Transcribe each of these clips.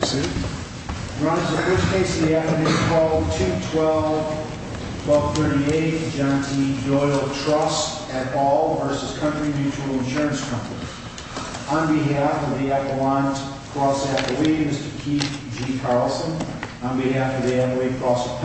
On behalf of the Appalachian Cross Appalachians, Keith G. Carlson, on behalf of the Appalachian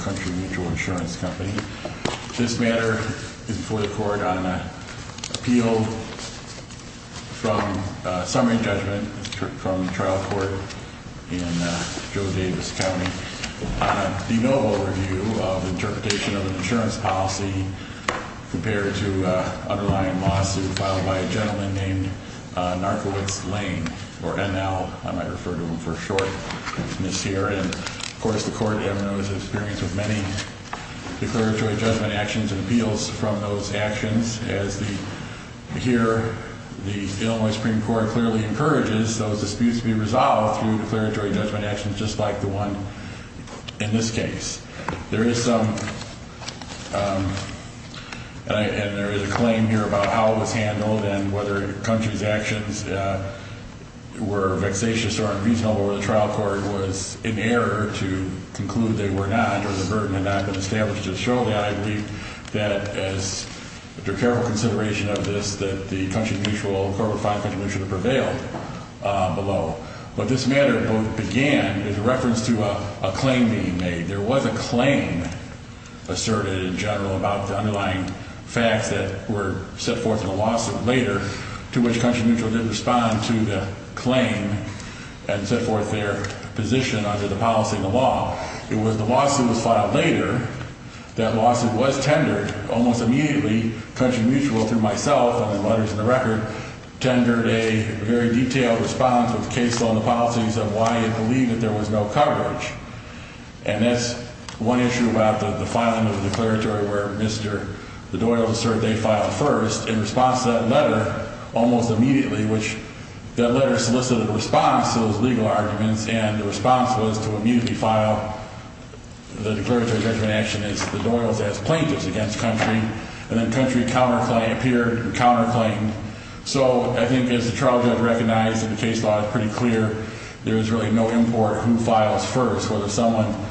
County Mutual Insurance Company, this matter is before the court on an appeal from summary judgment from trial court in Joe Davis County on a de novo review of the interpretation of an insurance policy compared to an underlying lawsuit filed by a gentleman named Narcovitz Lane, or NL, I might refer to him for short, and of course the court has experience with many declaratory judgment actions and appeals from those actions as the, here the Illinois Supreme Court clearly encourages those disputes to be resolved through declaratory judgment actions just like the one in this case. There is some, and there is a claim here about how it was handled and whether Country's actions were vexatious or unreasonable, or the trial court was in error to conclude they were not, or the burden had not been established to show that, I believe that as, after careful consideration of this, that the Country Mutual, Corp. 5 Country Mutual, prevailed below. But this matter both began as a reference to a claim being made. There was a claim asserted in general about the underlying facts that were set forth in the lawsuit later to which Country Mutual did respond to the claim and set forth their position under the policy and the law. It was the lawsuit was filed later, that lawsuit was tendered almost immediately, Country Mutual through myself and the letters in the record tendered a very detailed response with case law and the policies of why it believed that there was no coverage. And that's one issue about the filing of the declaratory where Mr. Doyle asserted they filed first in response to that letter almost immediately, which that letter solicited a response to those legal arguments, and the response was to immediately file the declaratory judgment action as the Doyles as plaintiffs against Country, and then Country counterclaimed, appeared and counterclaimed, so I think as the trial judge recognized that the case law is pretty clear, there is really no import who files first. It's just a case where someone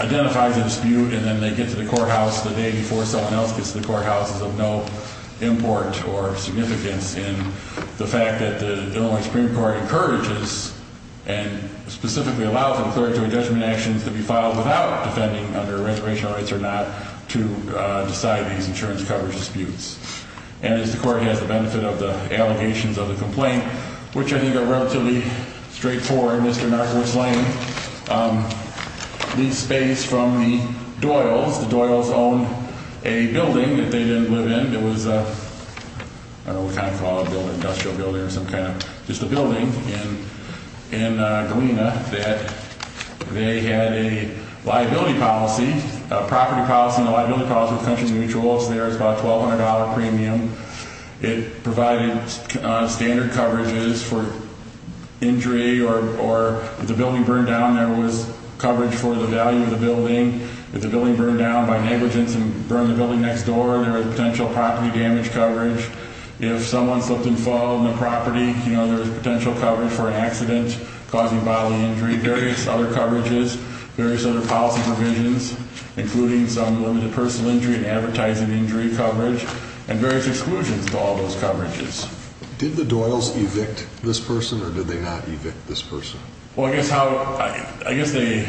identifies a dispute and then they get to the courthouse the day before someone else gets to the courthouse is of no import or significance in the fact that the Illinois Supreme Court encourages and specifically allows declaratory judgment actions to be filed without defending under rent ratio, it's or not, to decide these insurance coverage disputes, and as the court has the benefit of the allegations of the complaint, which I think are relatively straightforward, Mr. Doyle's own a building that they didn't live in, it was a, I don't know what kind of call it, industrial building or some kind of, just a building in Galena that they had a liability policy, a property policy and a liability policy with Country Mutuals, there was about a $1,200 premium. It provided standard coverages for injury or if the building burned down, there was coverage for the value of the building, if the building burned down by negligence and burned the building next door, there was potential property damage coverage, if someone slipped and fell on the property, you know, there was potential coverage for an accident, causing bodily injury, various other coverages, various other policy provisions, including some limited personal injury and advertising injury coverage. So there was some exclusions to all those coverages. Did the Doyles evict this person or did they not evict this person? Well, I guess how, I guess they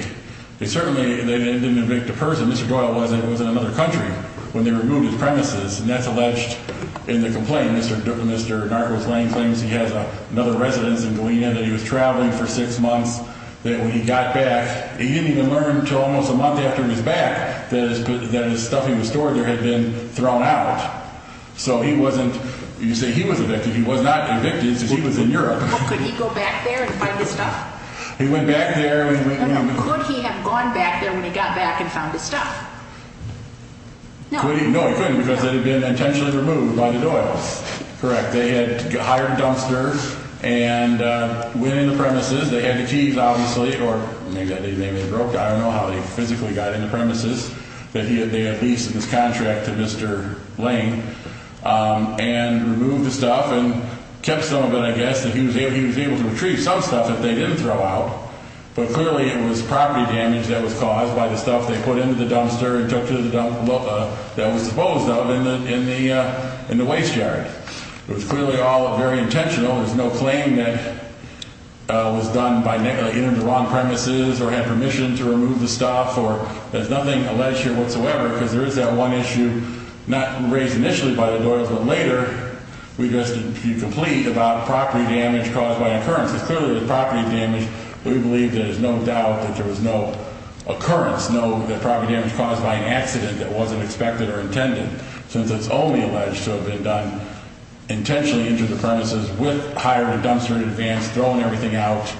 certainly, they didn't evict the person. Mr. Doyle was in another country when they removed his premises, and that's alleged in the complaint. Mr. Narcos Lane claims he has another residence in Galena that he was traveling for six months, that when he got back, he didn't even learn until almost a month after he was back that his stuff he was storing there had been thrown out. So he wasn't, you say he was evicted, he was not evicted because he was in Europe. Could he go back there and find his stuff? He went back there. Could he have gone back there when he got back and found his stuff? No, he couldn't because it had been intentionally removed by the Doyles. Correct. They had hired dumpsters and went in the premises. They had the keys, obviously, or maybe they broke. I don't know how they physically got in the premises. They had leased this contract to Mr. Lane and removed the stuff and kept some of it, I guess, that he was able to retrieve. Some stuff that they didn't throw out, but clearly it was property damage that was caused by the stuff they put into the dumpster and took to the dump that was supposed of in the waste yard. It was clearly all very intentional. There's no claim that it was done by entering the wrong premises or had permission to remove the stuff. There's nothing alleged here whatsoever because there is that one issue, not raised initially by the Doyles, but later we just complete about property damage caused by an occurrence. It's clearly the property damage. We believe there is no doubt that there was no occurrence, no property damage caused by an accident that wasn't expected or intended, since it's only alleged to have been done intentionally into the premises with hiring a dumpster in advance, throwing everything out.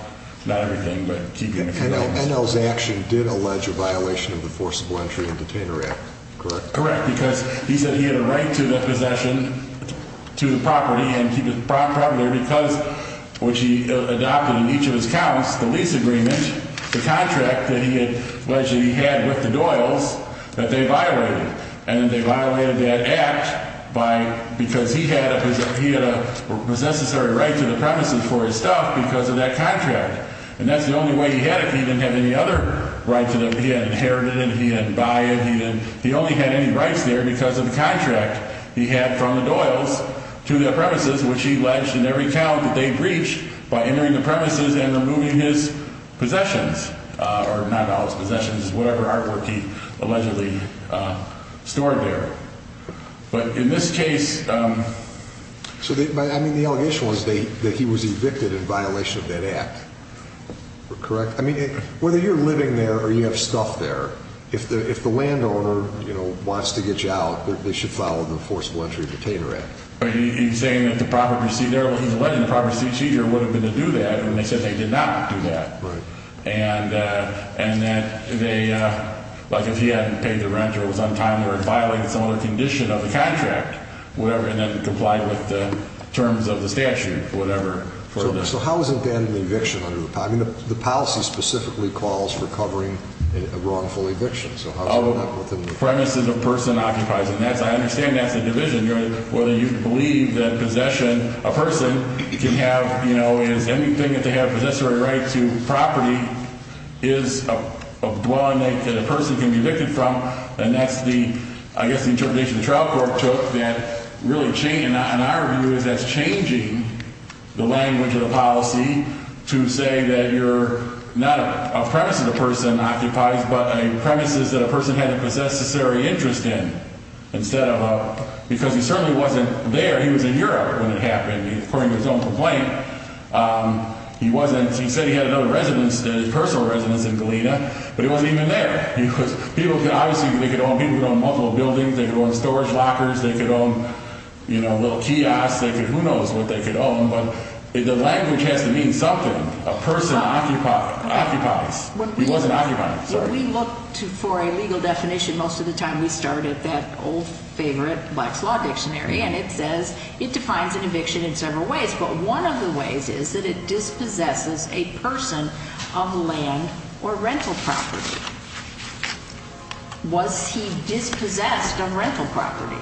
Not everything, but keeping a few items. NL's action did allege a violation of the Forcible Entry and Detainer Act, correct? Correct, because he said he had a right to the possession to the property and to keep his property there because, which he adopted in each of his counts, the lease agreement, the contract that he had alleged that he had with the Doyles that they violated. And they violated that act because he had a possessory right to the premises for his stuff because of that contract. And that's the only way he had it. He didn't have any other rights. He didn't inherit it. He didn't buy it. He only had any rights there because of the contract he had from the Doyles to the premises, which he alleged in every count that they breached by entering the premises and removing his possessions, or not Doyle's possessions, whatever artwork he allegedly stored there. But in this case... So, I mean, the allegation was that he was evicted in violation of that act, correct? I mean, whether you're living there or you have stuff there, if the landowner, you know, wants to get you out, they should follow the Forcible Entry and Detainer Act. But he's saying that the property received there, well, he's alleging the property received there would have been to do that, and they said they did not do that. Right. And that they, like if he hadn't paid the rent or was untimely or violated some other condition of the contract, whatever, and then complied with the terms of the statute, whatever. So how is it then an eviction under the policy? I mean, the policy specifically calls for covering a wrongful eviction. So how is that within the... Premises a person occupies, and I understand that's a division. Whether you believe that possession, a person can have, you know, is anything that they have possessory right to property is a dwelling that a person can be evicted from, and that's the, I guess, the interpretation the trial court took that really changed. And our view is that's changing the language of the policy to say that you're not a premise that a person occupies, but a premise is that a person had a possessory interest in instead of a... Because he certainly wasn't there. He was in Europe when it happened, according to his own complaint. He wasn't... He said he had another residence, his personal residence in Galena, but he wasn't even there. He was... People could obviously... They could own... People could own multiple buildings. They could own storage lockers. They could own, you know, little kiosks. They could... Who knows what they could own, but the language has to mean something. A person occupies. He wasn't occupying. If we look for a legal definition, most of the time we start at that old favorite Black's Law Dictionary, and it says it defines an eviction in several ways, but one of the ways is that it dispossesses a person of land or rental property. Was he dispossessed of rental property?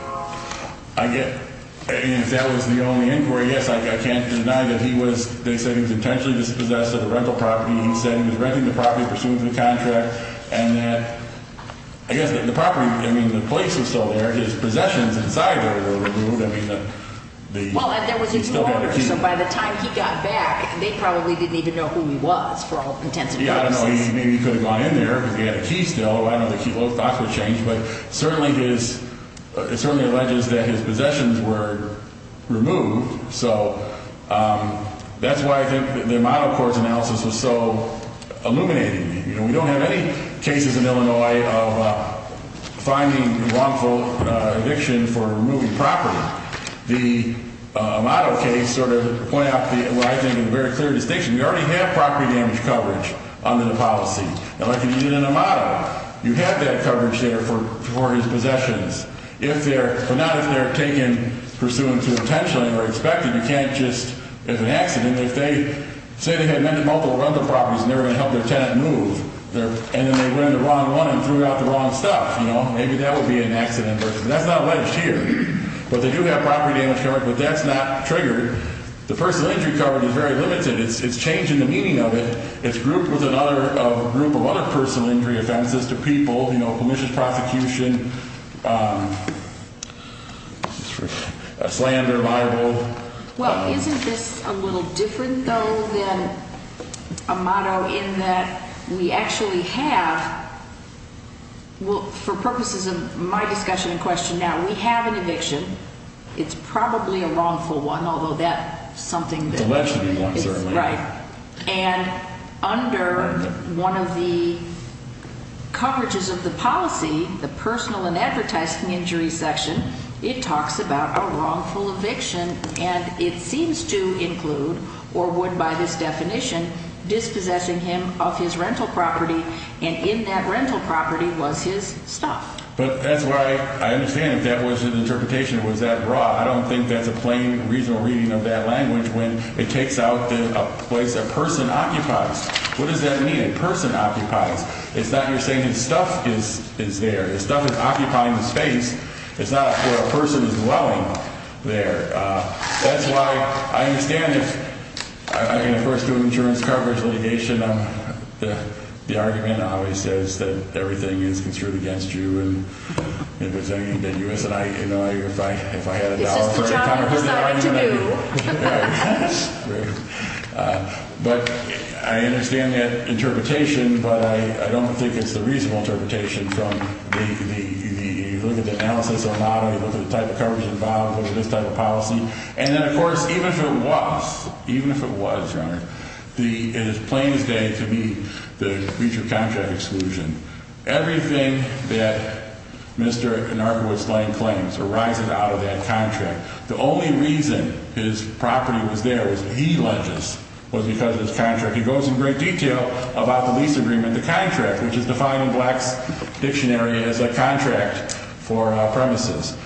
Again, if that was the only inquiry, yes, I can't deny that he was... They said he was intentionally dispossessed of the rental property. He said he was renting the property pursuant to the contract, and that, I guess, the property... I mean, the place was still there. His possessions inside there were removed. I mean, the... Well, there was a new owner, so by the time he got back, they probably didn't even know who he was, for all intents and purposes. Yeah, I don't know. Maybe he could have gone in there, but he had a key still. I don't know if he... A lot of thoughts were changed, but certainly his... It certainly alleges that his possessions were removed, so that's why I think the Amato Court's analysis was so illuminating to me. You know, we don't have any cases in Illinois of finding wrongful eviction for removing property. The Amato case sort of pointed out what I think is a very clear distinction. We already have property damage coverage under the policy. Now, like you did in Amato, you have that coverage there for his possessions. But not if they're taken pursuant to intentionally or expected. You can't just, if it's an accident, if they say they had multiple rental properties and they were going to help their tenant move and then they ran the wrong one and threw out the wrong stuff, you know, maybe that would be an accident. But that's not alleged here. But they do have property damage coverage, but that's not triggered. The personal injury coverage is very limited. It's changing the meaning of it. It's grouped with a group of other personal injury offenses to people, you know, pernicious prosecution, slander, libel. Well, isn't this a little different, though, than Amato in that we actually have, well, for purposes of my discussion and question now, we have an eviction. It's probably a wrongful one, although that's something that is right. And under one of the coverages of the policy, the personal and advertising injury section, it talks about a wrongful eviction. And it seems to include, or would by this definition, dispossessing him of his rental property, and in that rental property was his stuff. But that's why I understand if that was an interpretation, it was that raw. I don't think that's a plain, reasonable reading of that language when it takes out a place a person occupies. What does that mean, a person occupies? It's not you're saying his stuff is there. His stuff is occupying the space. It's not where a person is dwelling there. That's why I understand if I'm going to first do insurance coverage litigation, the argument always says that everything is construed against you, if I had a dollar for it. It's just a job for somebody to do. Right. But I understand that interpretation, but I don't think it's the reasonable interpretation from the, you look at the analysis or not, you look at the type of coverage involved, look at this type of policy. And then, of course, even if it was, even if it was, Your Honor, it is plain as day to me the breach of contract exclusion. Everything that Mr. Anarchowitz claims arises out of that contract. The only reason his property was there was that he alleges was because of his contract. He goes in great detail about the lease agreement, the contract, which is defined in Black's dictionary as a contract for premises.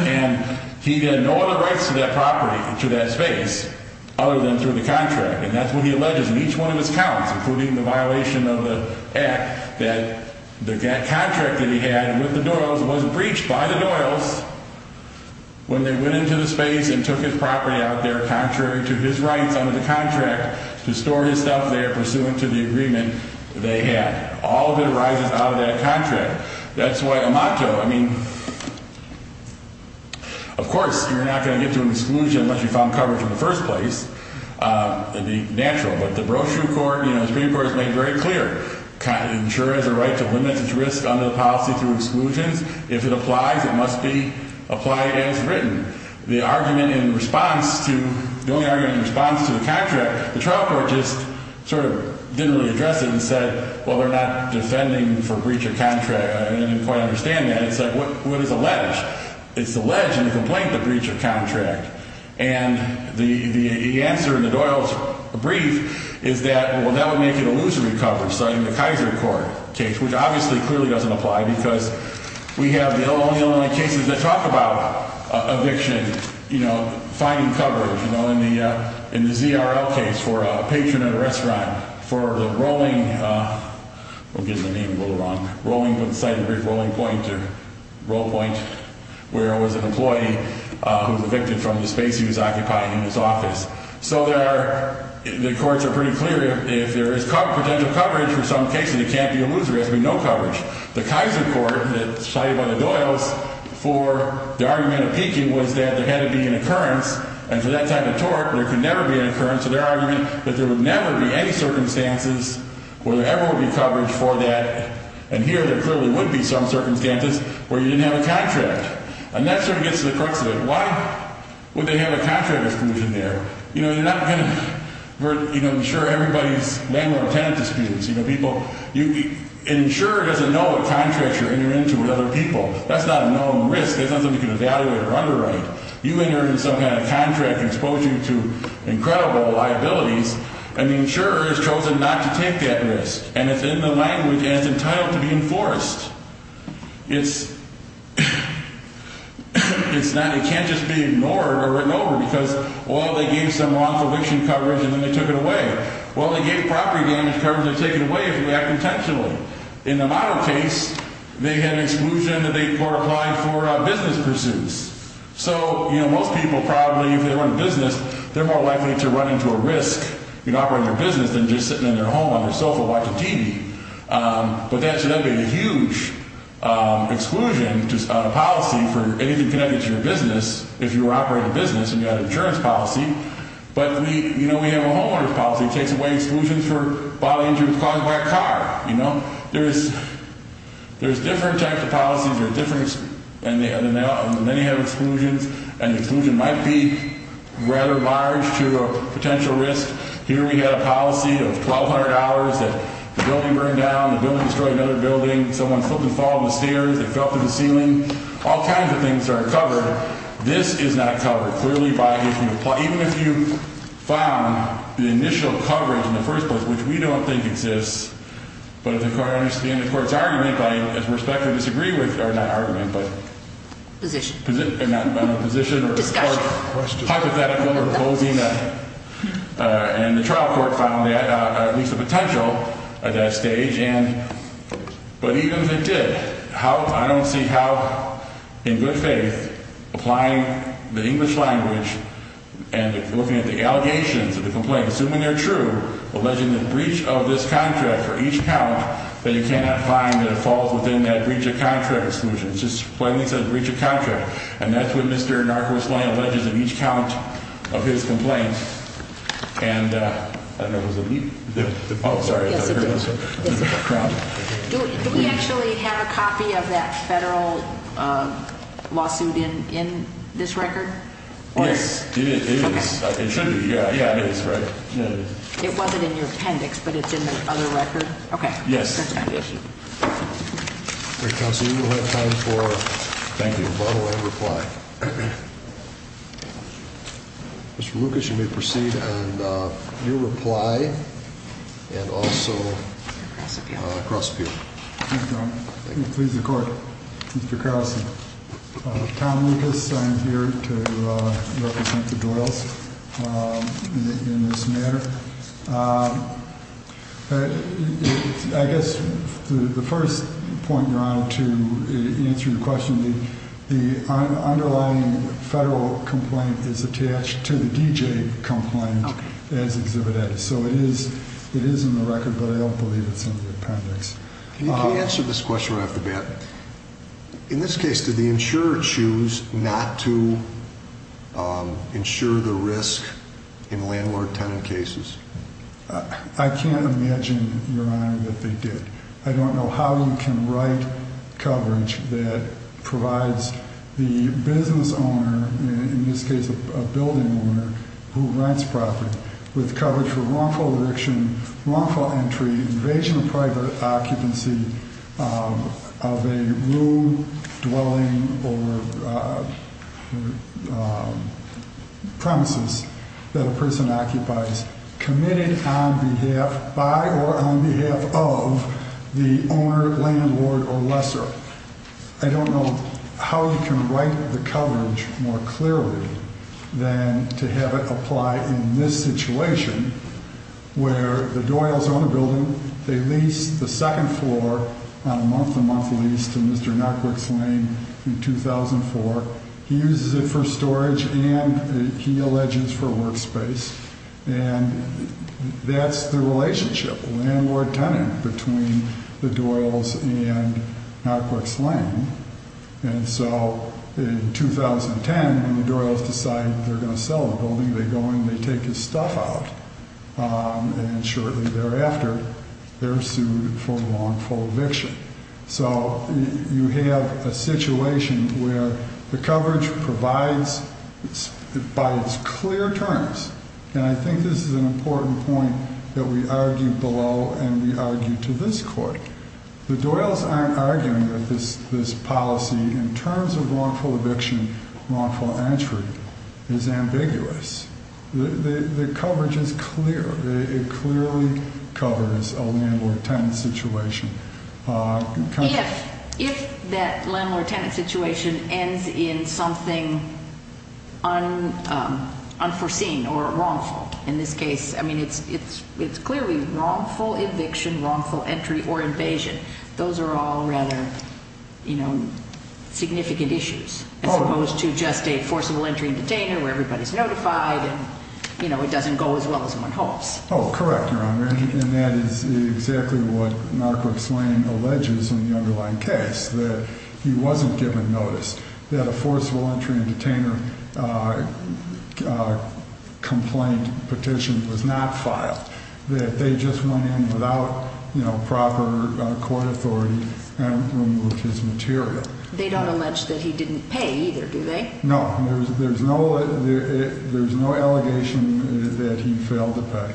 And he had no other rights to that property, to that space, other than through the contract. And that's what he alleges in each one of his counts, including the violation of the act, that the contract that he had with the Doyles was breached by the Doyles when they went into the space and took his property out there contrary to his rights under the contract to store his stuff there pursuant to the agreement they had. All of it arises out of that contract. That's why a motto, I mean, of course, you're not going to get to an exclusion unless you found coverage in the first place. It would be natural. But the Brochure Court, you know, the Supreme Court has made very clear, insure has a right to limit its risk under the policy through exclusions. If it applies, it must be applied as written. The argument in response to, the only argument in response to the contract, the trial court just sort of didn't really address it and said, well, they're not defending for breach of contract. I didn't quite understand that. It's like, what is alleged? It's alleged in the complaint the breach of contract. And the answer in the Doyles' brief is that, well, that would make it illusory coverage. So in the Kaiser Court case, which obviously clearly doesn't apply because we have the only, only cases that talk about eviction, you know, finding coverage, you know, in the ZRL case for a patron at a restaurant, for the rolling, I'm getting the name a little wrong, the site of the big rolling point or roll point where it was an employee who was evicted from the space he was occupying in his office. So there are, the courts are pretty clear if there is potential coverage for some cases, it can't be illusory. There has to be no coverage. The Kaiser Court decided by the Doyles for the argument of peaking was that there had to be an occurrence. And for that type of tort, there could never be an occurrence. So their argument is that there would never be any circumstances where there ever would be coverage for that. And here there clearly would be some circumstances where you didn't have a contract. And that sort of gets to the crux of it. Why would they have a contract exclusion there? You know, you're not going to ensure everybody's landlord or tenant disputes. You know, people, an insurer doesn't know what contracts you're entering into with other people. That's not a known risk. That's not something you can evaluate or underwrite. You enter into some kind of contract exposing you to incredible liabilities, and the insurer has chosen not to take that risk. And it's in the language and it's entitled to be enforced. It's not, it can't just be ignored or written over because, well, they gave some wrongful eviction coverage and then they took it away. Well, they gave property damage coverage and they take it away if you act intentionally. In the model case, they had an exclusion that they applied for business pursuits. So, you know, most people probably, if they run a business, they're more likely to run into a risk in operating their business than just sitting in their home on their sofa watching TV. But that should not be a huge exclusion on a policy for anything connected to your business if you were operating a business and you had an insurance policy. But, you know, we have a homeowner's policy that takes away exclusions for bodily injuries caused by a car. You know, there's different types of policies. And many have exclusions, and the exclusion might be rather large to a potential risk. Here we had a policy of $1,200 that the building burned down, the building destroyed another building, someone slipped and fell on the stairs, they fell through the ceiling. All kinds of things are covered. This is not covered. Clearly, even if you found the initial coverage in the first place, which we don't think exists, but if the court understands the court's argument, I respectfully disagree with, or not argument, but... Position. Position. Discussion. Hypothetical or opposing. And the trial court found at least the potential at that stage. But even if it did, I don't see how, in good faith, applying the English language and looking at the allegations of the complaint, assuming they're true, alleging the breach of this contract for each count, then you cannot find that it falls within that breach of contract exclusion. It's just plainly says breach of contract. And that's what Mr. Narcos-Lane alleges in each count of his complaint. And... I don't know if it was the... Oh, sorry. Yes, it did. Do we actually have a copy of that federal lawsuit in this record? Yes, it is. Okay. It should be. Yeah, it is, right? Yeah, it is. It wasn't in your appendix, but it's in the other record? Okay. Yes. Great. Counsel, we will have time for... Thank you. A follow-up reply. Mr. Lucas, you may proceed. And your reply, and also... Cross appeal. Cross appeal. Thank you. Please record. Mr. Carlson. Tom Lucas. I'm here to represent the Doyles in this matter. I guess the first point you're on to answer your question, the underlying federal complaint is attached to the DJ complaint as exhibited. So it is in the record, but I don't believe it's in the appendix. Can you answer this question right off the bat? In this case, did the insurer choose not to insure the risk in landlord-tenant cases? I can't imagine, Your Honor, that they did. I don't know how you can write coverage that provides the business owner, in this case a building owner, who rents property, with coverage for wrongful eviction, wrongful entry, invasion of private occupancy of a room, dwelling, or premises that a person occupies, committed on behalf, by or on behalf of, the owner, landlord, or lesser. I don't know how you can write the coverage more clearly than to have it apply in this situation, where the Doyles own a building, they lease the second floor on a month-to-month lease to Mr. Nutbrooks Lane in 2004. He uses it for storage and, he alleges, for workspace. And that's the relationship, landlord-tenant, between the Doyles and Nutbrooks Lane. And so, in 2010, when the Doyles decide they're going to sell the building, they go and they take his stuff out. And shortly thereafter, they're sued for wrongful eviction. So, you have a situation where the coverage provides, by its clear terms, and I think this is an important point that we argue below and we argue to this court. The Doyles aren't arguing that this policy, in terms of wrongful eviction, wrongful entry, is ambiguous. The coverage is clear. It clearly covers a landlord-tenant situation. If that landlord-tenant situation ends in something unforeseen or wrongful, in this case, I mean, it's clearly wrongful eviction, wrongful entry, or invasion. Those are all rather significant issues, as opposed to just a forcible entry and detainer where everybody's notified and it doesn't go as well as one hopes. Oh, correct, Your Honor. And that is exactly what Nutbrooks Lane alleges in the underlying case, that he wasn't given notice that a forcible entry and detainer complaint petition was not filed. That they just went in without proper court authority and removed his material. They don't allege that he didn't pay either, do they? No. There's no allegation that he failed to pay.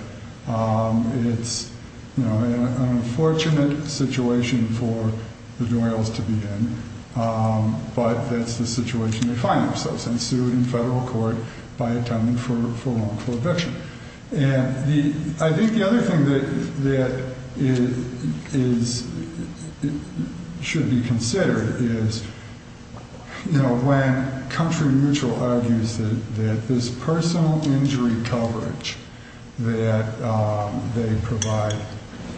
It's an unfortunate situation for the Doyles to be in, but that's the situation they find themselves in. And I think the other thing that should be considered is, you know, when Country Mutual argues that this personal injury coverage that they provide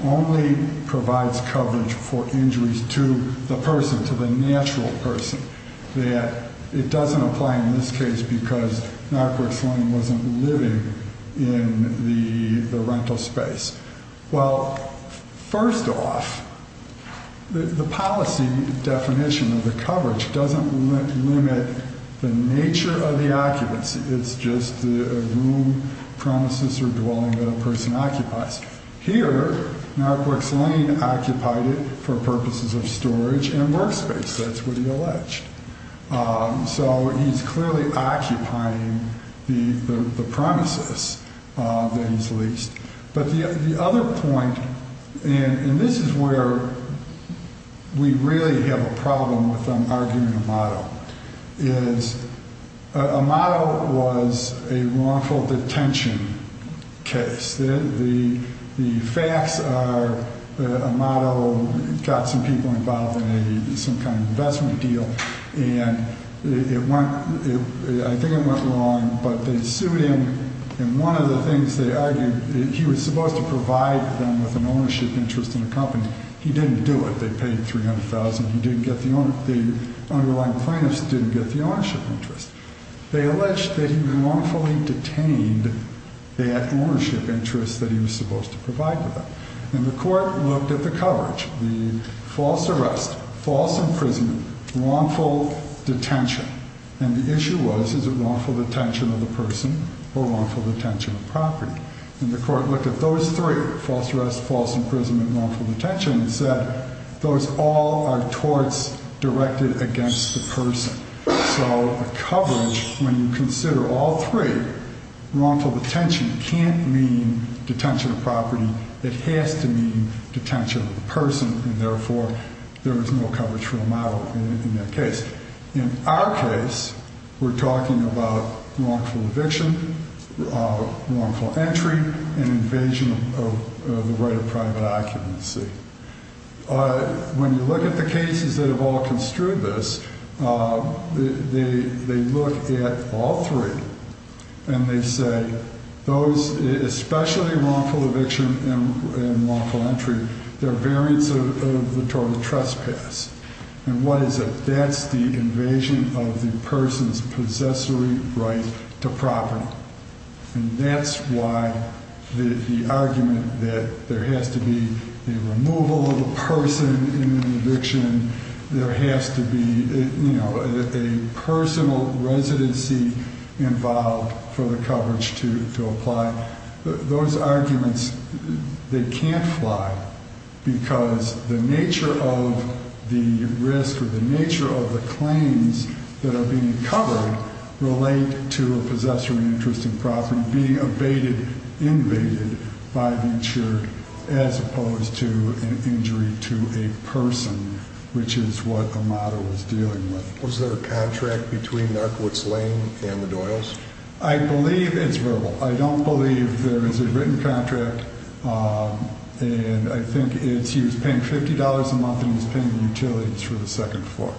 only provides coverage for injuries to the person, to the natural person. That it doesn't apply in this case because Nutbrooks Lane wasn't living in the rental space. Well, first off, the policy definition of the coverage doesn't limit the nature of the occupancy. It's just the room, premises, or dwelling that a person occupies. Here, Nutbrooks Lane occupied it for purposes of storage and workspace. That's what he alleged. So he's clearly occupying the premises that he's leased. But the other point, and this is where we really have a problem with them arguing Amato, is Amato was a wrongful detention case. The facts are that Amato got some people involved in some kind of investment deal, and I think it went wrong, but they sued him. And one of the things they argued, he was supposed to provide them with an ownership interest in a company. He didn't do it. They paid $300,000. He didn't get the, the underlying plaintiffs didn't get the ownership interest. They alleged that he wrongfully detained that ownership interest that he was supposed to provide to them. And the court looked at the coverage. The false arrest, false imprisonment, wrongful detention. And the issue was, is it wrongful detention of the person or wrongful detention of property? And the court looked at those three, false arrest, false imprisonment, wrongful detention, and said, those all are torts directed against the person. So the coverage, when you consider all three, wrongful detention can't mean detention of property. It has to mean detention of the person, and therefore, there is no coverage for Amato in that case. In our case, we're talking about wrongful eviction, wrongful entry, and invasion of the right of private occupancy. When you look at the cases that have all construed this, they look at all three, and they say, those, especially wrongful eviction and wrongful entry, they're variants of the tort of trespass. And what is it? That's the invasion of the person's possessory right to property. And that's why the argument that there has to be a removal of a person in an eviction, there has to be a personal residency involved for the coverage to apply. Now, those arguments, they can't fly, because the nature of the risk or the nature of the claims that are being covered relate to a possessory interest in property being abated, invaded, by the insured, as opposed to an injury to a person, which is what Amato is dealing with. Was there a contract between Narkowitz Lane and the Doyles? I believe it's verbal. I don't believe there is a written contract. And I think he was paying $50 a month, and he was paying the utilities for the second floor.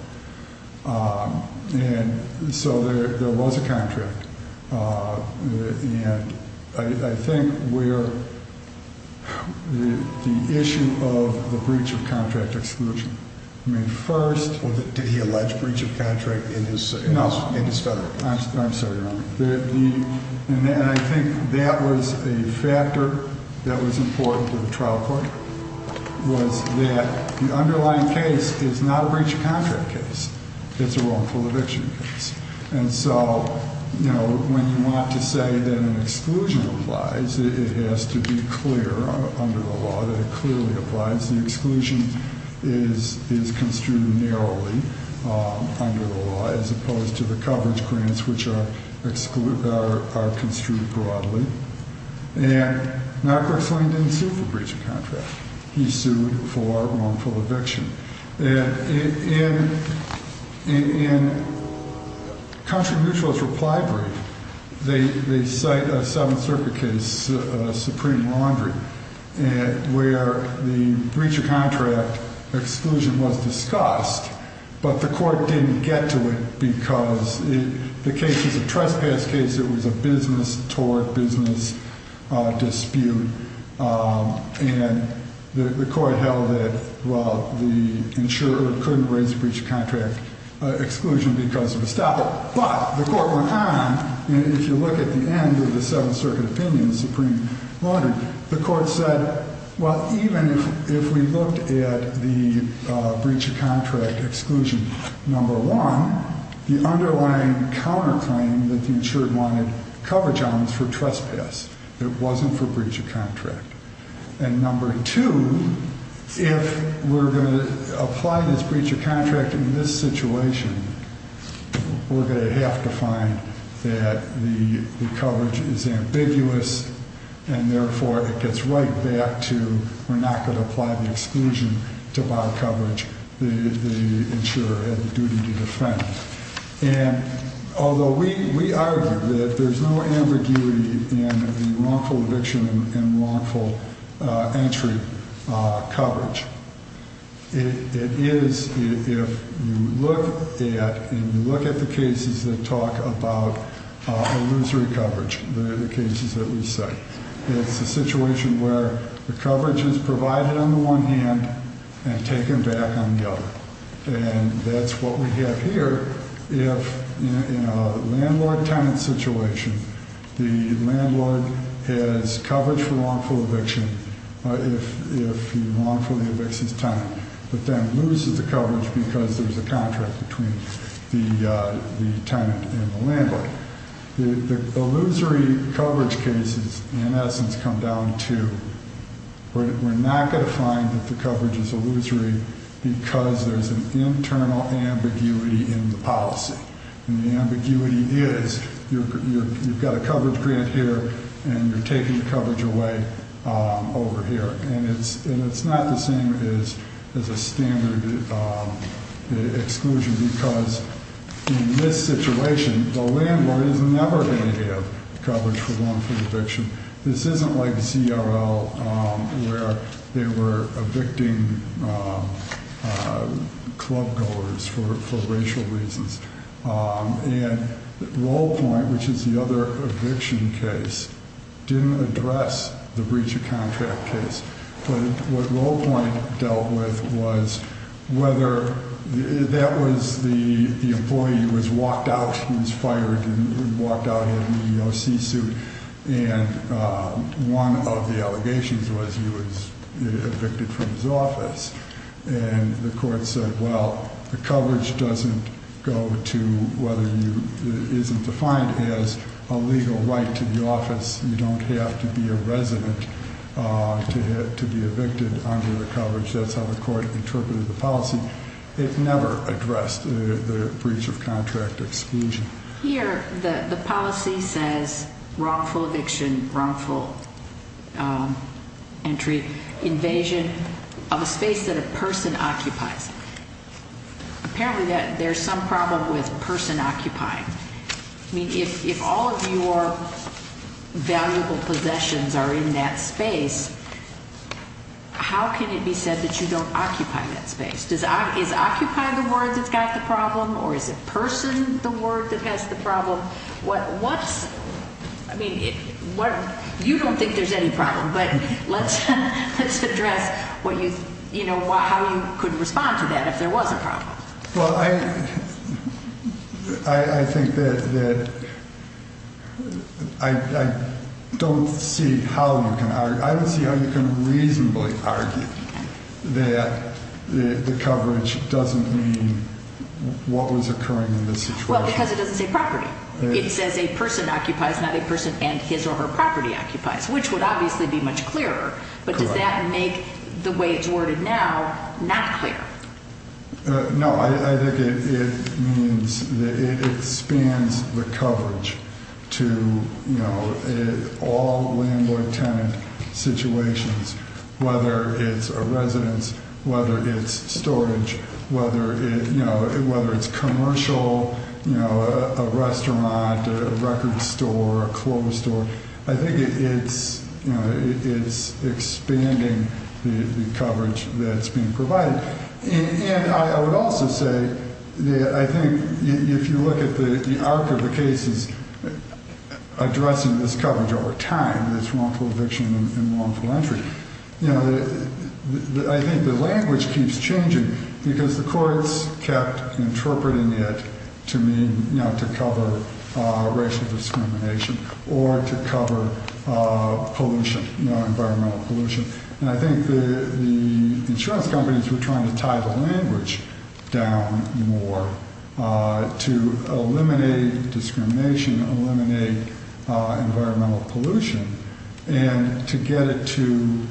And so there was a contract. And I think we're the issue of the breach of contract exclusion. I mean, first... Did he allege breach of contract in his federal case? I'm sorry, Your Honor. And I think that was a factor that was important to the trial court, was that the underlying case is not a breach of contract case. It's a wrongful eviction case. And so, you know, when you want to say that an exclusion applies, it has to be clear under the law that it clearly applies. The exclusion is construed narrowly under the law, as opposed to the coverage grants, which are construed broadly. And Narkowitz Lane didn't sue for breach of contract. He sued for wrongful eviction. And in Country Mutual's reply brief, they cite a Seventh Circuit case, Supreme Laundry, where the breach of contract exclusion was discussed, but the court didn't get to it because the case is a trespass case. It was a business-toward-business dispute. And the court held that, well, the insurer couldn't raise the breach of contract exclusion because of a stopper. But the court went on, and if you look at the end of the Seventh Circuit opinion, Supreme Laundry, the court said, well, even if we looked at the breach of contract exclusion, number one, the underlying counterclaim that the insurer wanted coverage on was for trespass. It wasn't for breach of contract. And number two, if we're going to apply this breach of contract in this situation, we're going to have to find that the coverage is ambiguous, and therefore it gets right back to we're not going to apply the exclusion to buy coverage the insurer had the duty to defend. And although we argue that there's no ambiguity in the wrongful eviction and wrongful entry coverage, it is if you look at the cases that talk about illusory coverage, the cases that we cite. It's a situation where the coverage is provided on the one hand and taken back on the other. And that's what we have here if in a landlord-tenant situation, the landlord has coverage for wrongful eviction if he wrongfully evicts his tenant, but then loses the coverage because there's a contract between the tenant and the landlord. The illusory coverage cases, in essence, come down to we're not going to find that the coverage is illusory because there's an internal ambiguity in the policy. And the ambiguity is you've got a coverage grant here and you're taking the coverage away over here. And it's not the same as a standard exclusion because in this situation, the landlord is never going to have coverage for wrongful eviction. This isn't like ZRL where they were evicting club goers for racial reasons. And Roll Point, which is the other eviction case, didn't address the breach of contract case. But what Roll Point dealt with was whether that was the employee who was walked out, who was fired and walked out in the O.C. suit. And one of the allegations was he was evicted from his office. And the court said, well, the coverage doesn't go to whether you – it isn't defined as a legal right to the office. You don't have to be a resident to be evicted under the coverage. That's how the court interpreted the policy. They've never addressed the breach of contract exclusion. Here the policy says wrongful eviction, wrongful entry, invasion of a space that a person occupies. Apparently there's some problem with person occupying. I mean, if all of your valuable possessions are in that space, how can it be said that you don't occupy that space? Is occupy the word that's got the problem, or is it person the word that has the problem? What's – I mean, you don't think there's any problem, but let's address how you could respond to that if there was a problem. Well, I think that I don't see how you can – I don't see how you can reasonably argue that the coverage doesn't mean what was occurring in the situation. Well, because it doesn't say property. It says a person occupies, not a person and his or her property occupies, which would obviously be much clearer. But does that make the way it's worded now not clear? No, I think it means that it expands the coverage to all landlord-tenant situations, whether it's a residence, whether it's storage, whether it's commercial, a restaurant, a record store, a clothes store. I think it's expanding the coverage that's being provided. And I would also say that I think if you look at the arc of the cases addressing this coverage over time, this wrongful eviction and wrongful entry, I think the language keeps changing because the courts kept interpreting it to mean to cover racial discrimination or to cover pollution, environmental pollution. And I think the insurance companies were trying to tie the language down more to eliminate discrimination, eliminate environmental pollution, and to get it to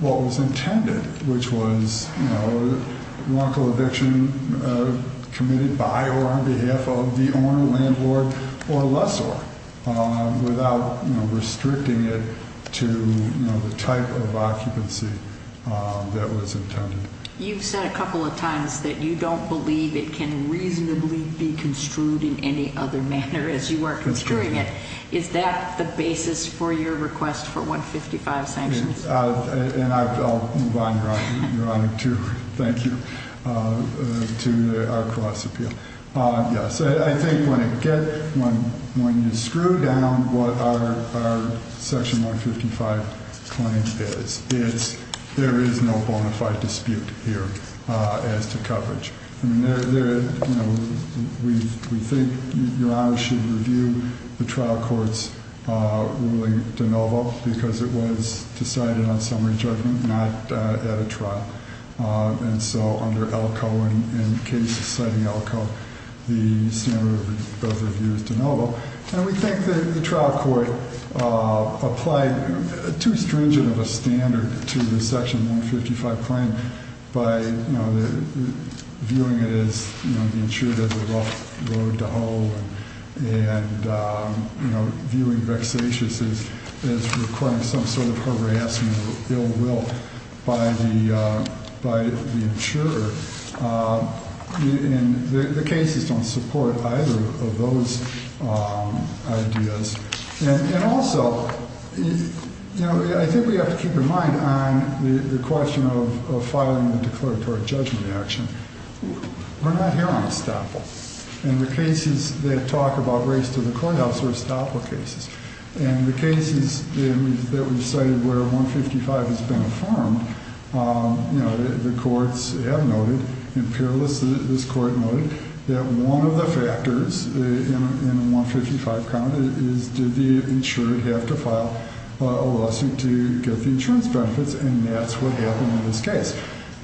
what was intended, which was wrongful eviction committed by or on behalf of the owner, landlord, or lessor, without restricting it to the type of occupancy that was intended. You've said a couple of times that you don't believe it can reasonably be construed in any other manner as you are construing it. Is that the basis for your request for 155 sanctions? And I'll move on, Your Honor, to thank you, to our cross-appeal. Yes, I think when you screw down what our Section 155 claim is, there is no bona fide dispute here as to coverage. I mean, we think Your Honor should review the trial court's ruling de novo because it was decided on summary judgment, not at a trial. And so under ELCO and cases citing ELCO, the standard of review is de novo. And we think the trial court applied too stringent of a standard to the Section 155 claim by viewing it as the insured as a rough road to hoe and viewing vexatious as requiring some sort of harassment or ill will by the insurer. And the cases don't support either of those ideas. And also, you know, I think we have to keep in mind on the question of filing the declaratory judgment action. We're not here on estoppel. And the cases that talk about race to the courthouse are estoppel cases. And the cases that we've cited where 155 has been affirmed, you know, the courts have noted, this court noted, that one of the factors in a 155 count is did the insured have to file a lesson to get the insurance benefits? And that's what happened in this case.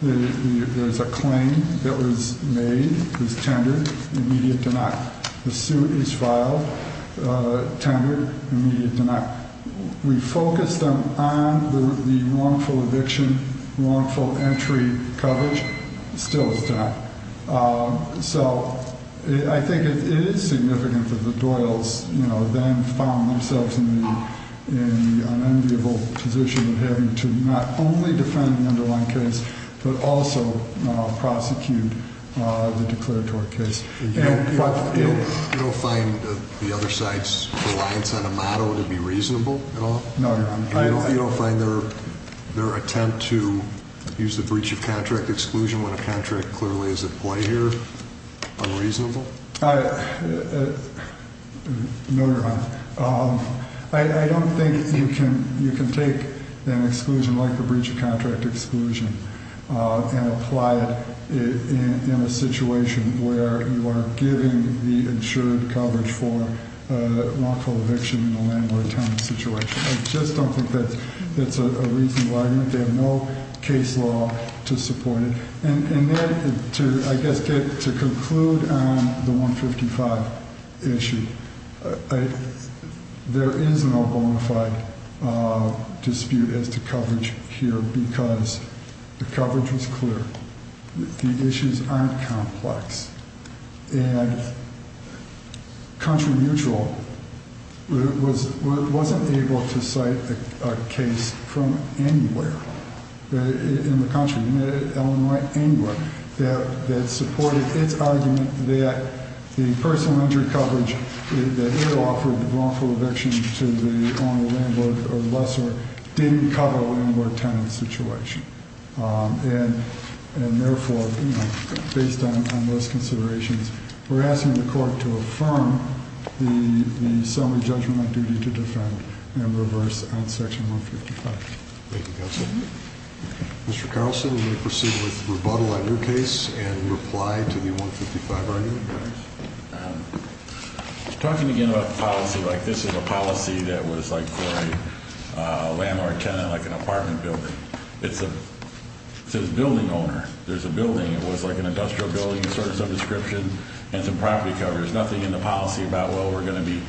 There's a claim that was made, was tendered, immediate denial. The suit is filed, tendered, immediate denial. We focus them on the wrongful eviction, wrongful entry coverage. Still it's not. So I think it is significant that the Doyles, you know, then found themselves in the unenviable position of having to not only defend the underlying case, but also prosecute the declaratory case. You don't find the other side's reliance on a motto to be reasonable at all? No, Your Honor. You don't find their attempt to use the breach of contract exclusion when a contract clearly is at play here unreasonable? No, Your Honor. I don't think you can take an exclusion like the breach of contract exclusion and apply it in a situation where you are giving the insured coverage for wrongful eviction in a landlord-town situation. I just don't think that's a reasonable argument. They have no case law to support it. And then to, I guess, get to conclude on the 155 issue, there is no bona fide dispute as to coverage here because the coverage was clear. The issues aren't complex. And Contra Mutual wasn't able to cite a case from anywhere in the country, Illinois, anywhere, that supported its argument that the personal injury coverage that it offered the wrongful eviction to the owner, landlord, or lessor, didn't cover a landlord-tenant situation. And therefore, based on those considerations, we're asking the court to affirm the summary judgment on duty to defend and reverse on Section 155. Thank you, Counsel. Mr. Carlson, we're going to proceed with rebuttal on your case and reply to the 155 argument. Talking again about policy, like this is a policy that was like for a landlord-tenant, like an apartment building. It says building owner. There's a building. It was like an industrial building, sort of some description, and some property coverage. There's nothing in the policy about, well, we're going to be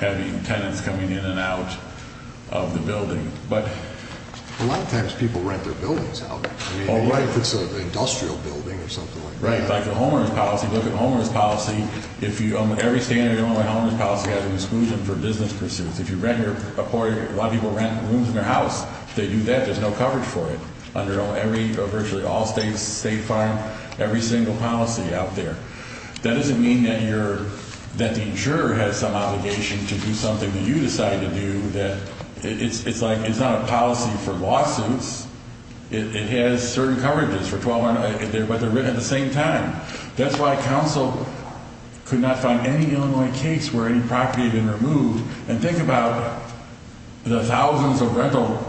having tenants coming in and out of the building. But a lot of times people rent their buildings out. I mean, even if it's an industrial building or something like that. Right. It's like a homeowner's policy. Look at a homeowner's policy. Every standard homeowner's policy has an exclusion for business pursuits. If you rent your apartment, a lot of people rent rooms in their house. If they do that, there's no coverage for it under virtually all states, state farm, every single policy out there. That doesn't mean that the insurer has some obligation to do something that you decided to do. It's like it's not a policy for lawsuits. It has certain coverages for $1,200, but they're written at the same time. That's why counsel could not find any Illinois case where any property had been removed. And think about the thousands of rental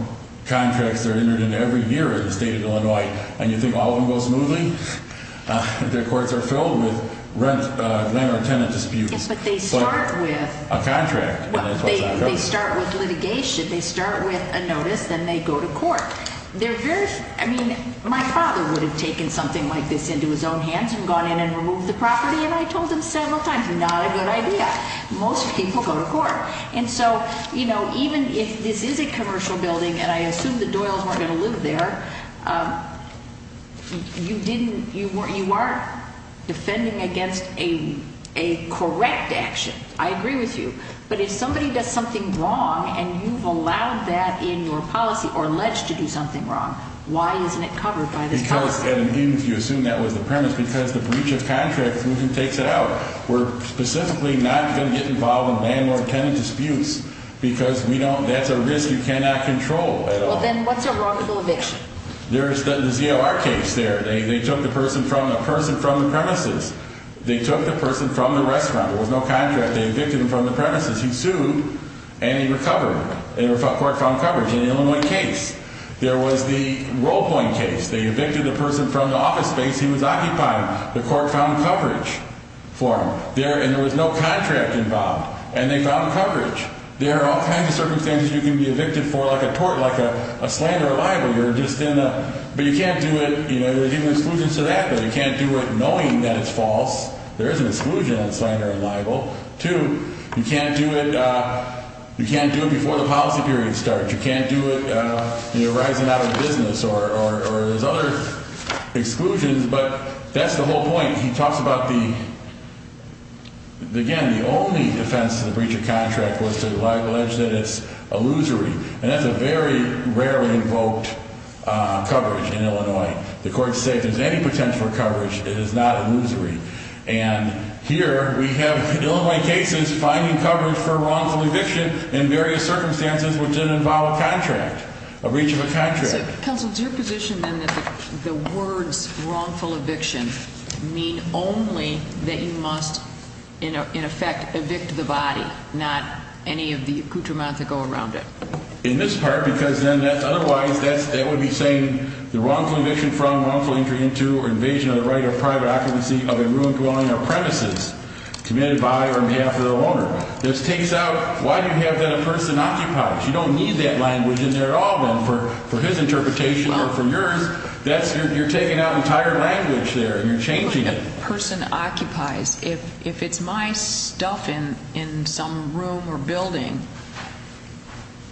contracts that are entered into every year in the state of Illinois, and you think all of them go smoothly? Their courts are filled with landlord-tenant disputes. But they start with a contract. They start with litigation. They start with a notice. Then they go to court. I mean, my father would have taken something like this into his own hands and gone in and removed the property, and I told him several times, not a good idea. Most people go to court. And so, you know, even if this is a commercial building, and I assume the Doyles weren't going to live there, you are defending against a correct action. I agree with you. But if somebody does something wrong and you've allowed that in your policy or alleged to do something wrong, why isn't it covered by this policy? Because if you assume that was the premise, because the breach of contract is who takes it out. We're specifically not going to get involved in landlord-tenant disputes because that's a risk you cannot control. Well, then what's a wrongful eviction? There's the ZLR case there. They took the person from the premises. They took the person from the restaurant. There was no contract. They evicted him from the premises. He sued, and he recovered. And the court found coverage. And in only one case, there was the Role Point case. They evicted the person from the office space he was occupying. The court found coverage for him. And there was no contract involved. And they found coverage. There are all kinds of circumstances you can be evicted for, like a tort, like a slander or libel. You're just in a – but you can't do it, you know, you're given exclusion to that, but you can't do it knowing that it's false. There is an exclusion on slander and libel. Two, you can't do it – you can't do it before the policy period starts. You can't do it, you know, rising out of business or there's other exclusions. But that's the whole point. He talks about the – again, the only offense to the breach of contract was to allege that it's illusory. And that's a very rarely invoked coverage in Illinois. The courts say if there's any potential for coverage, it is not illusory. And here we have Illinois cases finding coverage for wrongful eviction in various circumstances which didn't involve a contract, a breach of a contract. Counsel, is your position then that the words wrongful eviction mean only that you must, in effect, evict the body, not any of the accoutrements that go around it? In this part, because then otherwise that would be saying the wrongful eviction from, wrongful entry into, or invasion of the right of private occupancy of a room dwelling or premises committed by or on behalf of the owner. This takes out – why do you have that a person occupies? You don't need that language in there at all then for his interpretation or for yours. That's – you're taking out entire language there and you're changing it. If a person occupies, if it's my stuff in some room or building,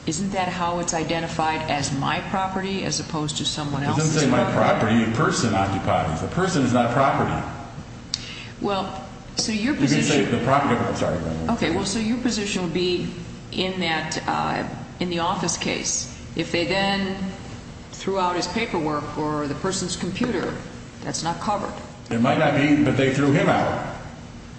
isn't that how it's identified as my property as opposed to someone else's property? It doesn't say my property. A person occupies. A person is not property. Well, so your position – You're going to say the property. I'm sorry. Okay. Well, so your position would be in that – in the office case. If they then threw out his paperwork or the person's computer, that's not covered. It might not be, but they threw him out.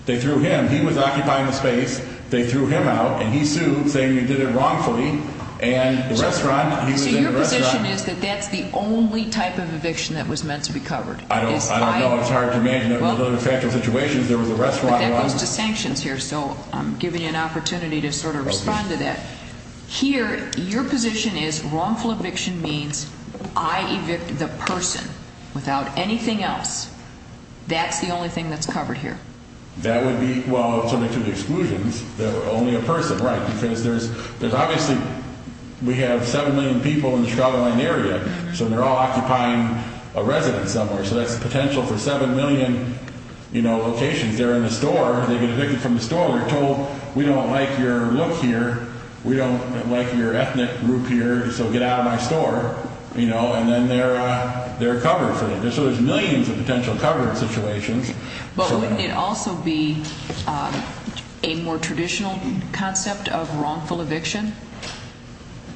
They threw him. He was occupying the space. They threw him out and he sued saying you did it wrongfully and the restaurant – So your position is that that's the only type of eviction that was meant to be covered? I don't know. It's hard to imagine. In other factual situations there was a restaurant. But that goes to sanctions here, so I'm giving you an opportunity to sort of respond to that. Here, your position is wrongful eviction means I evicted the person without anything else. That's the only thing that's covered here? That would be – well, certainly to the exclusions, only a person, right? Because there's – there's obviously – we have 7 million people in the Chicago-Lyne area, so they're all occupying a residence somewhere. So that's potential for 7 million, you know, locations. They're in the store. They get evicted from the store. They're told we don't like your look here. We don't like your ethnic group here, so get out of my store. You know, and then they're covered for that. So there's millions of potential coverage situations. But wouldn't it also be a more traditional concept of wrongful eviction?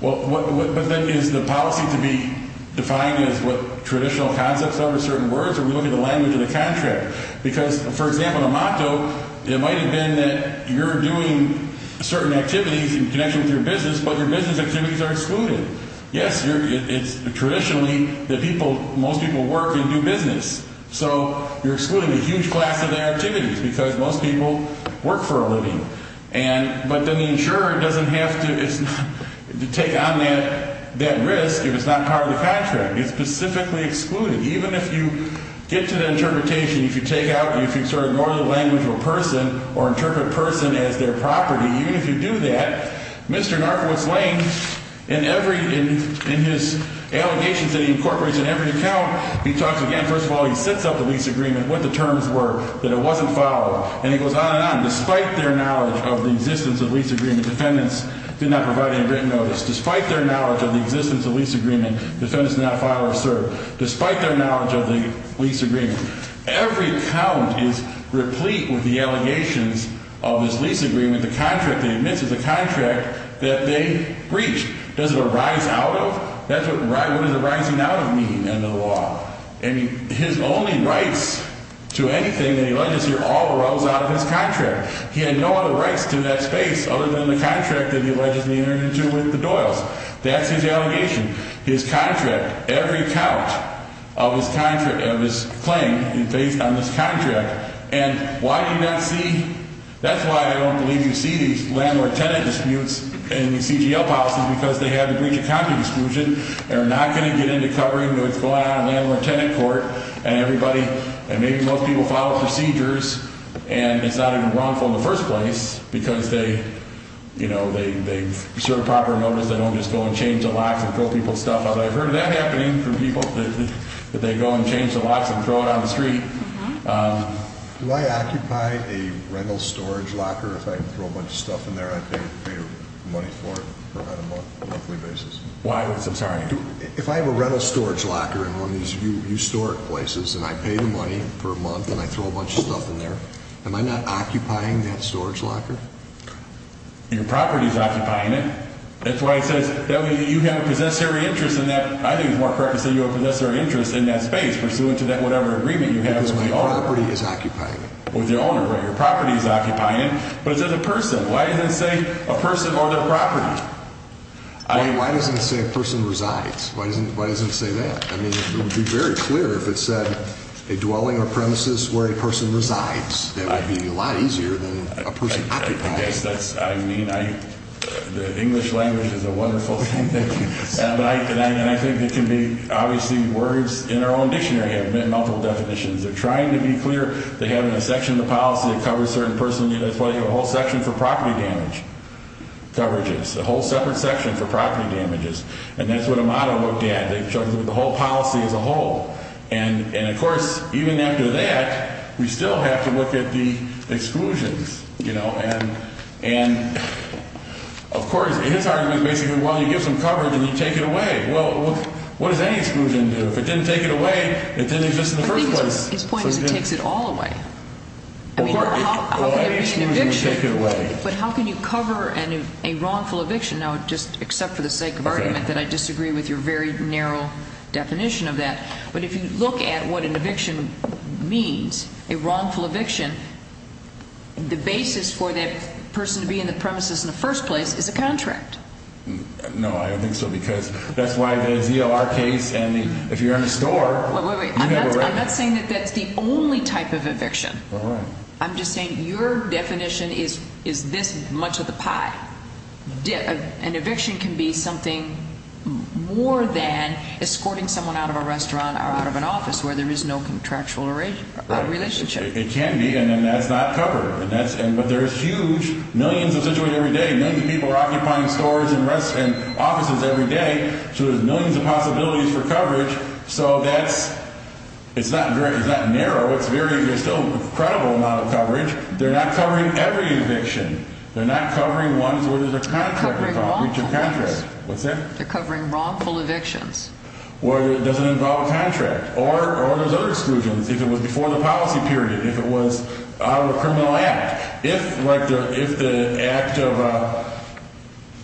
Well, but then is the policy to be defined as what traditional concepts are with certain words? Are we looking at the language of the contract? Because, for example, the motto, it might have been that you're doing certain activities in connection with your business, but your business activities are excluded. Yes, it's traditionally that people – most people work and do business. So you're excluding a huge class of activities because most people work for a living. And – but then the insurer doesn't have to take on that risk if it's not part of the contract. It's specifically excluded. Even if you get to the interpretation, if you take out – if you sort of ignore the language of a person or interpret person as their property, even if you do that, Mr. Garfield is laying in every – in his allegations that he incorporates in every account, he talks again. First of all, he sets up the lease agreement, what the terms were, that it wasn't filed. And he goes on and on. Despite their knowledge of the existence of the lease agreement, defendants did not provide any written notice. Despite their knowledge of the existence of the lease agreement, defendants did not file or serve. Despite their knowledge of the lease agreement, every account is replete with the allegations of this lease agreement, the contract they admit to, the contract that they breached. Does it arise out of? That's what – what does arising out of mean under the law? And his only rights to anything that he alleges here all arose out of his contract. He had no other rights to that space other than the contract that he allegedly entered into with the Doyles. That's his allegation. His contract, every account of his contract – of his claim is based on this contract. And why do you not see – that's why I don't believe you see these landlord-tenant disputes in the CGL policies, because they have the breach of contract exclusion. They're not going to get into covering what's going on in the landlord-tenant court. And everybody – and maybe most people follow procedures, and it's not even wrongful in the first place, because they, you know, they serve proper notice. They don't just go and change the locks and throw people's stuff out. I've heard that happening from people, that they go and change the locks and throw it on the street. Do I occupy a rental storage locker if I throw a bunch of stuff in there? I pay money for it for about a month on a monthly basis. Why would – I'm sorry. If I have a rental storage locker in one of these historic places, and I pay the money for a month and I throw a bunch of stuff in there, am I not occupying that storage locker? Your property is occupying it. That's why it says you have a possessory interest in that – I think it's more correct to say you have a possessory interest in that space, pursuant to that whatever agreement you have with the owner. Because my property is occupying it. With the owner, right. Your property is occupying it. But it says a person. Why doesn't it say a person or their property? Why doesn't it say a person resides? Why doesn't it say that? I mean, it would be very clear if it said a dwelling or premises where a person resides. That would be a lot easier than a person occupying it. I mean, the English language is a wonderful thing. And I think it can be – obviously, words in our own dictionary have multiple definitions. They're trying to be clear. They have a section of the policy that covers a certain person. That's why you have a whole section for property damage coverages, a whole separate section for property damages. And that's what Amado looked at. They've chosen the whole policy as a whole. And, of course, even after that, we still have to look at the exclusions. And, of course, his argument is basically, well, you give some coverage and you take it away. Well, what does any exclusion do? If it didn't take it away, it didn't exist in the first place. I think his point is it takes it all away. Well, any exclusion would take it away. But how can you cover a wrongful eviction? Now, just except for the sake of argument that I disagree with your very narrow definition of that. But if you look at what an eviction means, a wrongful eviction, the basis for that person to be in the premises in the first place is a contract. No, I don't think so because that's why the ZLR case and the – if you're in a store, you never rent. I'm not saying that that's the only type of eviction. All right. I'm just saying your definition is this much of the pie. An eviction can be something more than escorting someone out of a restaurant or out of an office where there is no contractual relationship. It can be, and then that's not covered. But there's huge – millions of situations every day. Millions of people are occupying stores and offices every day. So there's millions of possibilities for coverage. So that's – it's not narrow. It's very – there's still an incredible amount of coverage. They're not covering every eviction. They're not covering ones where there's a contract with a breach of contract. They're covering wrongful evictions. What's that? They're covering wrongful evictions. Whether it doesn't involve a contract or there's other exclusions. If it was before the policy period, if it was out of a criminal act. If, like, the act of –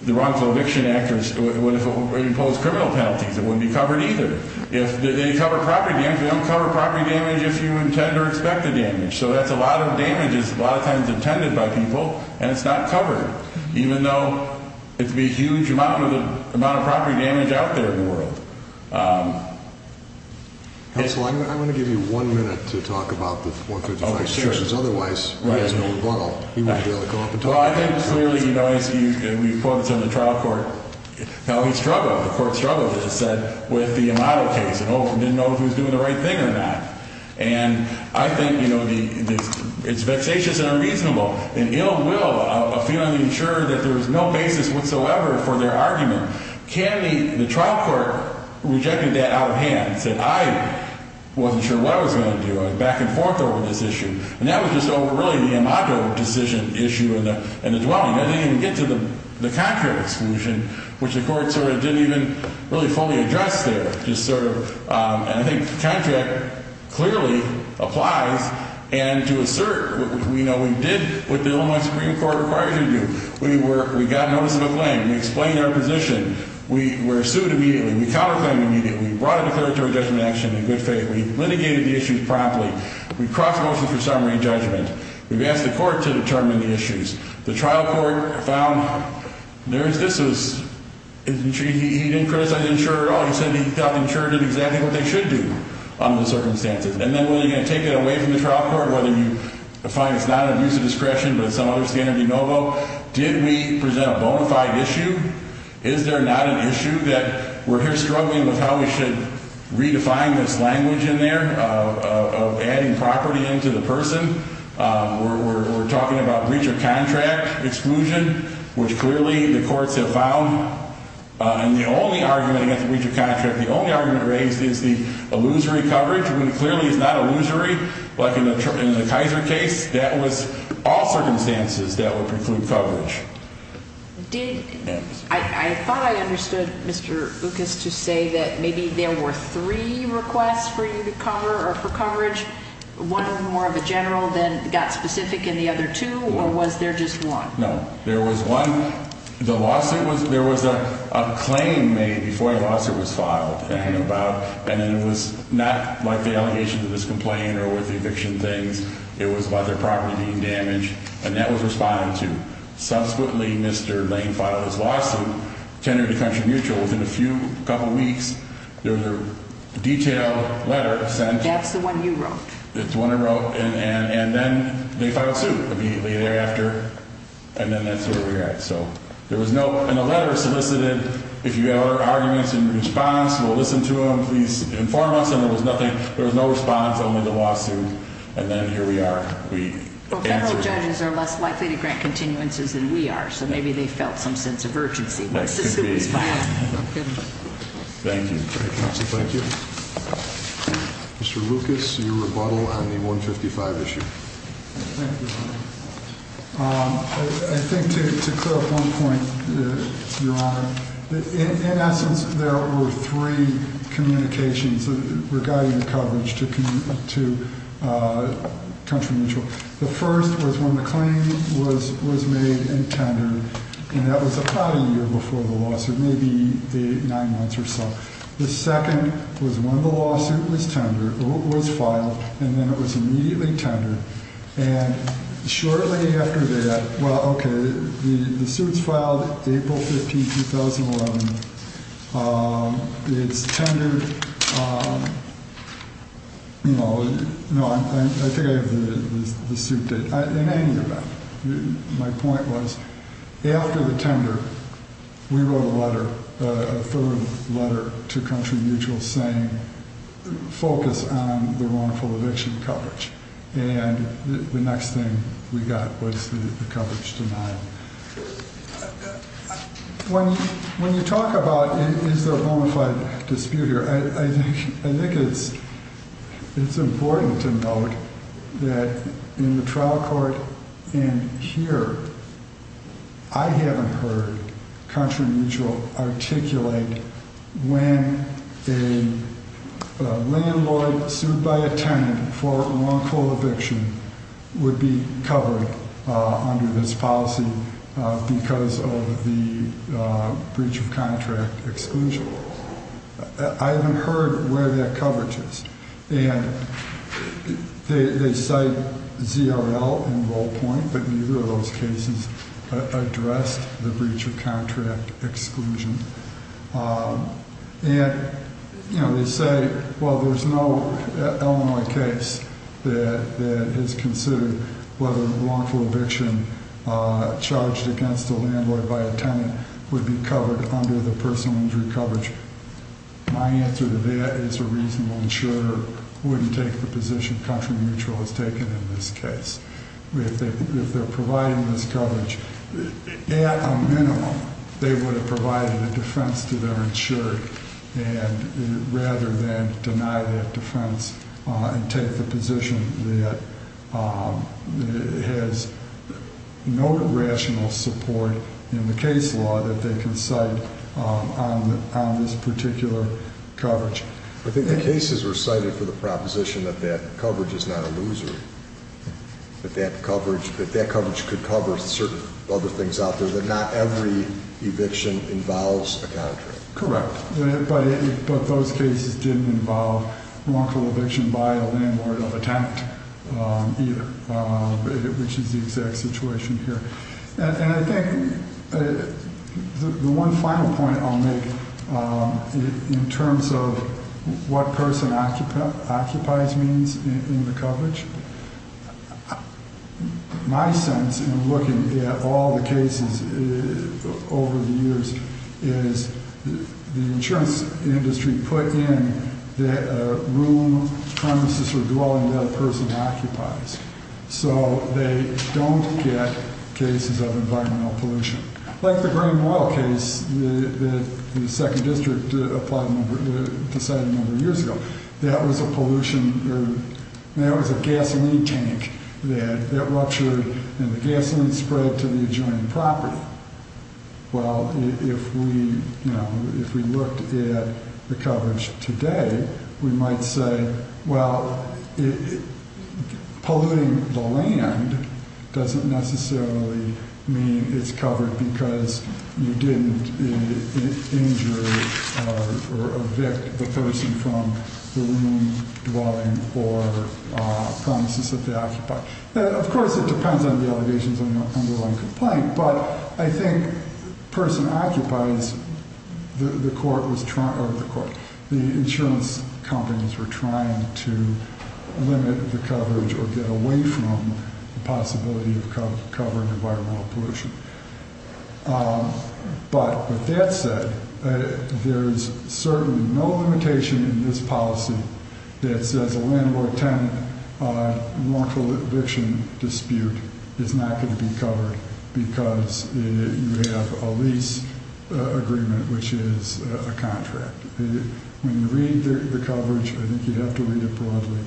the wrongful eviction act imposed criminal penalties, it wouldn't be covered either. If they cover property damage, they don't cover property damage if you intend or expect the damage. So that's a lot of damages a lot of times intended by people, and it's not covered. Even though it would be a huge amount of property damage out there in the world. Counsel, I'm going to give you one minute to talk about the 143 restrictions. Otherwise, he has no rebuttal. He wouldn't be able to come up and talk. Well, I think clearly, you know, as we've quoted some of the trial court, how he struggled. The court struggled, as I said, with the Amado case and didn't know if he was doing the right thing or not. And I think, you know, the – it's vexatious and unreasonable. An ill will of feeling sure that there was no basis whatsoever for their argument. Kennedy, the trial court, rejected that out of hand. Said, I wasn't sure what I was going to do. I was back and forth over this issue. And that was just over, really, the Amado decision issue and the dwelling. I didn't even get to the contract exclusion, which the court sort of didn't even really fully address there. Just sort of – and I think the contract clearly applies. And to assert, you know, we did what the Illinois Supreme Court required us to do. We were – we got notice of a claim. We explained our position. We were sued immediately. We counterclaimed immediately. We brought a declaratory judgment action in good faith. We litigated the issues promptly. We crossed motions for summary judgment. We've asked the court to determine the issues. The trial court found there is – this was – he didn't criticize Insurer at all. He said he thought Insurer did exactly what they should do under the circumstances. And then, when you're going to take it away from the trial court, whether you find it's not an abuse of discretion, but it's some other scanty no-go, did we present a bona fide issue? Is there not an issue that we're here struggling with how we should redefine this language in there of adding property into the person? We're talking about breach of contract exclusion, which clearly the courts have found. And the only argument against breach of contract, the only argument raised is the illusory coverage, which clearly is not illusory like in the Kaiser case. That was all circumstances that would preclude coverage. Did – I thought I understood Mr. Lucas to say that maybe there were three requests for you to cover or for coverage, one more of a general, then got specific in the other two, or was there just one? No. There was one. The lawsuit was – there was a claim made before a lawsuit was filed. And it was not like the allegation to this complaint or with the eviction things. It was about their property being damaged. And that was responded to. Subsequently, Mr. Lane filed his lawsuit, tendered to Country Mutual. Within a few – a couple weeks, there was a detailed letter sent. That's the one you wrote. That's the one I wrote. And then they filed suit immediately thereafter. And then that's where we're at. So there was no – and the letter solicited, if you have arguments in response, we'll listen to them. Please inform us. And there was nothing – there was no response, only the lawsuit. And then here we are. We answered it. Well, federal judges are less likely to grant continuances than we are, so maybe they felt some sense of urgency once the suit was filed. That could be. Okay. Thank you. Great. Counsel, thank you. Mr. Lucas, your rebuttal on the 155 issue. Thank you, Your Honor. I think to clear up one point, Your Honor, in essence, there were three communications regarding coverage to Country Mutual. The first was when the claim was made and tendered, and that was about a year before the lawsuit, maybe nine months or so. The second was when the lawsuit was tendered – was filed, and then it was immediately tendered. And shortly after that – well, okay, the suit's filed April 15, 2011. It's tendered – no, I think I have the suit date. In any event, my point was after the tender, we wrote a letter, a third letter to Country Mutual saying focus on the wrongful eviction coverage. And the next thing we got was the coverage denial. When you talk about is there a bona fide dispute here, I think it's important to note that in the trial court and here, I haven't heard Country Mutual articulate when a landlord sued by a tenant for wrongful eviction would be covered under this policy because of the breach of contract exclusion. I haven't heard where that coverage is. And they cite ZRL and Role Point, but neither of those cases addressed the breach of contract exclusion. And they say, well, there's no Illinois case that has considered whether wrongful eviction charged against a landlord by a tenant would be covered under the personal injury coverage. My answer to that is a reasonable insurer wouldn't take the position Country Mutual has taken in this case. If they're providing this coverage, at a minimum, they would have provided a defense to their insurer rather than deny that defense and take the position that has no rational support in the case law that they can cite on this particular coverage. I think the cases were cited for the proposition that that coverage is not a loser, that that coverage could cover certain other things out there, that not every eviction involves a contract. Correct. But those cases didn't involve wrongful eviction by a landlord of a tenant either, which is the exact situation here. And I think the one final point I'll make in terms of what person occupies means in the coverage, my sense in looking at all the cases over the years is the insurance industry put in the room, premises, or dwelling that a person occupies. So they don't get cases of environmental pollution. Like the Greenwell case that the 2nd District decided a number of years ago, that was a gasoline tank that ruptured and the gasoline spread to the adjoining property. Well, if we looked at the coverage today, we might say, well, polluting the land doesn't necessarily mean it's covered because you didn't injure or evict the person from the room, dwelling, or premises that they occupy. Of course, it depends on the allegations and the underlying complaint, but I think person occupies, the insurance companies were trying to limit the coverage or get away from the possibility of covering environmental pollution. But with that said, there's certainly no limitation in this policy that says a landlord-tenant wrongful eviction dispute is not going to be covered because you have a lease agreement, which is a contract. So when you read the coverage, I think you'd have to read it broadly.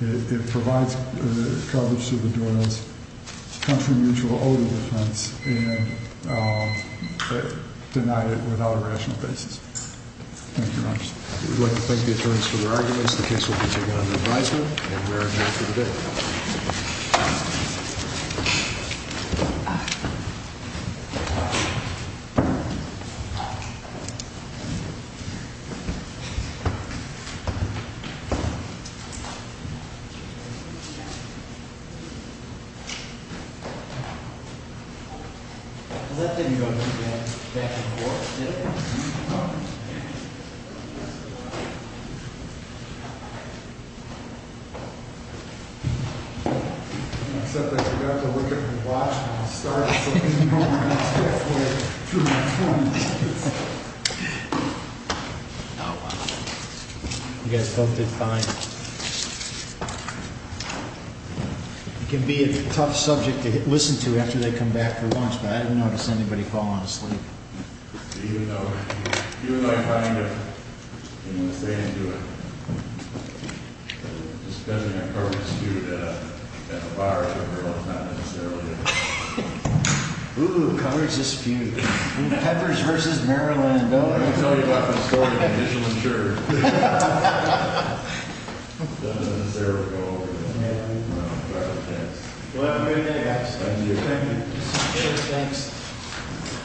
It provides coverage to the door as country mutual owed a defense and denied it without a rational basis. Thank you very much. We'd like to thank the attorneys for their arguments. The case will be taken under advisement and we're adjourned for the day. Thank you. Thank you. Thank you. Thank you. Thank you. Thank you. Thank you. Thank you. You guys both did fine. It can be a tough subject to listen to after they come back for lunch, but I didn't notice anybody falling asleep. Even though I kind of didn't want to say anything to it, just because of the coverage dispute at the bar, it's not necessarily a... Ooh, coverage dispute. Peppers versus Maryland. I'm going to tell you about the story of the initial insurer. Well, have a great day, guys. Thank you. Thanks.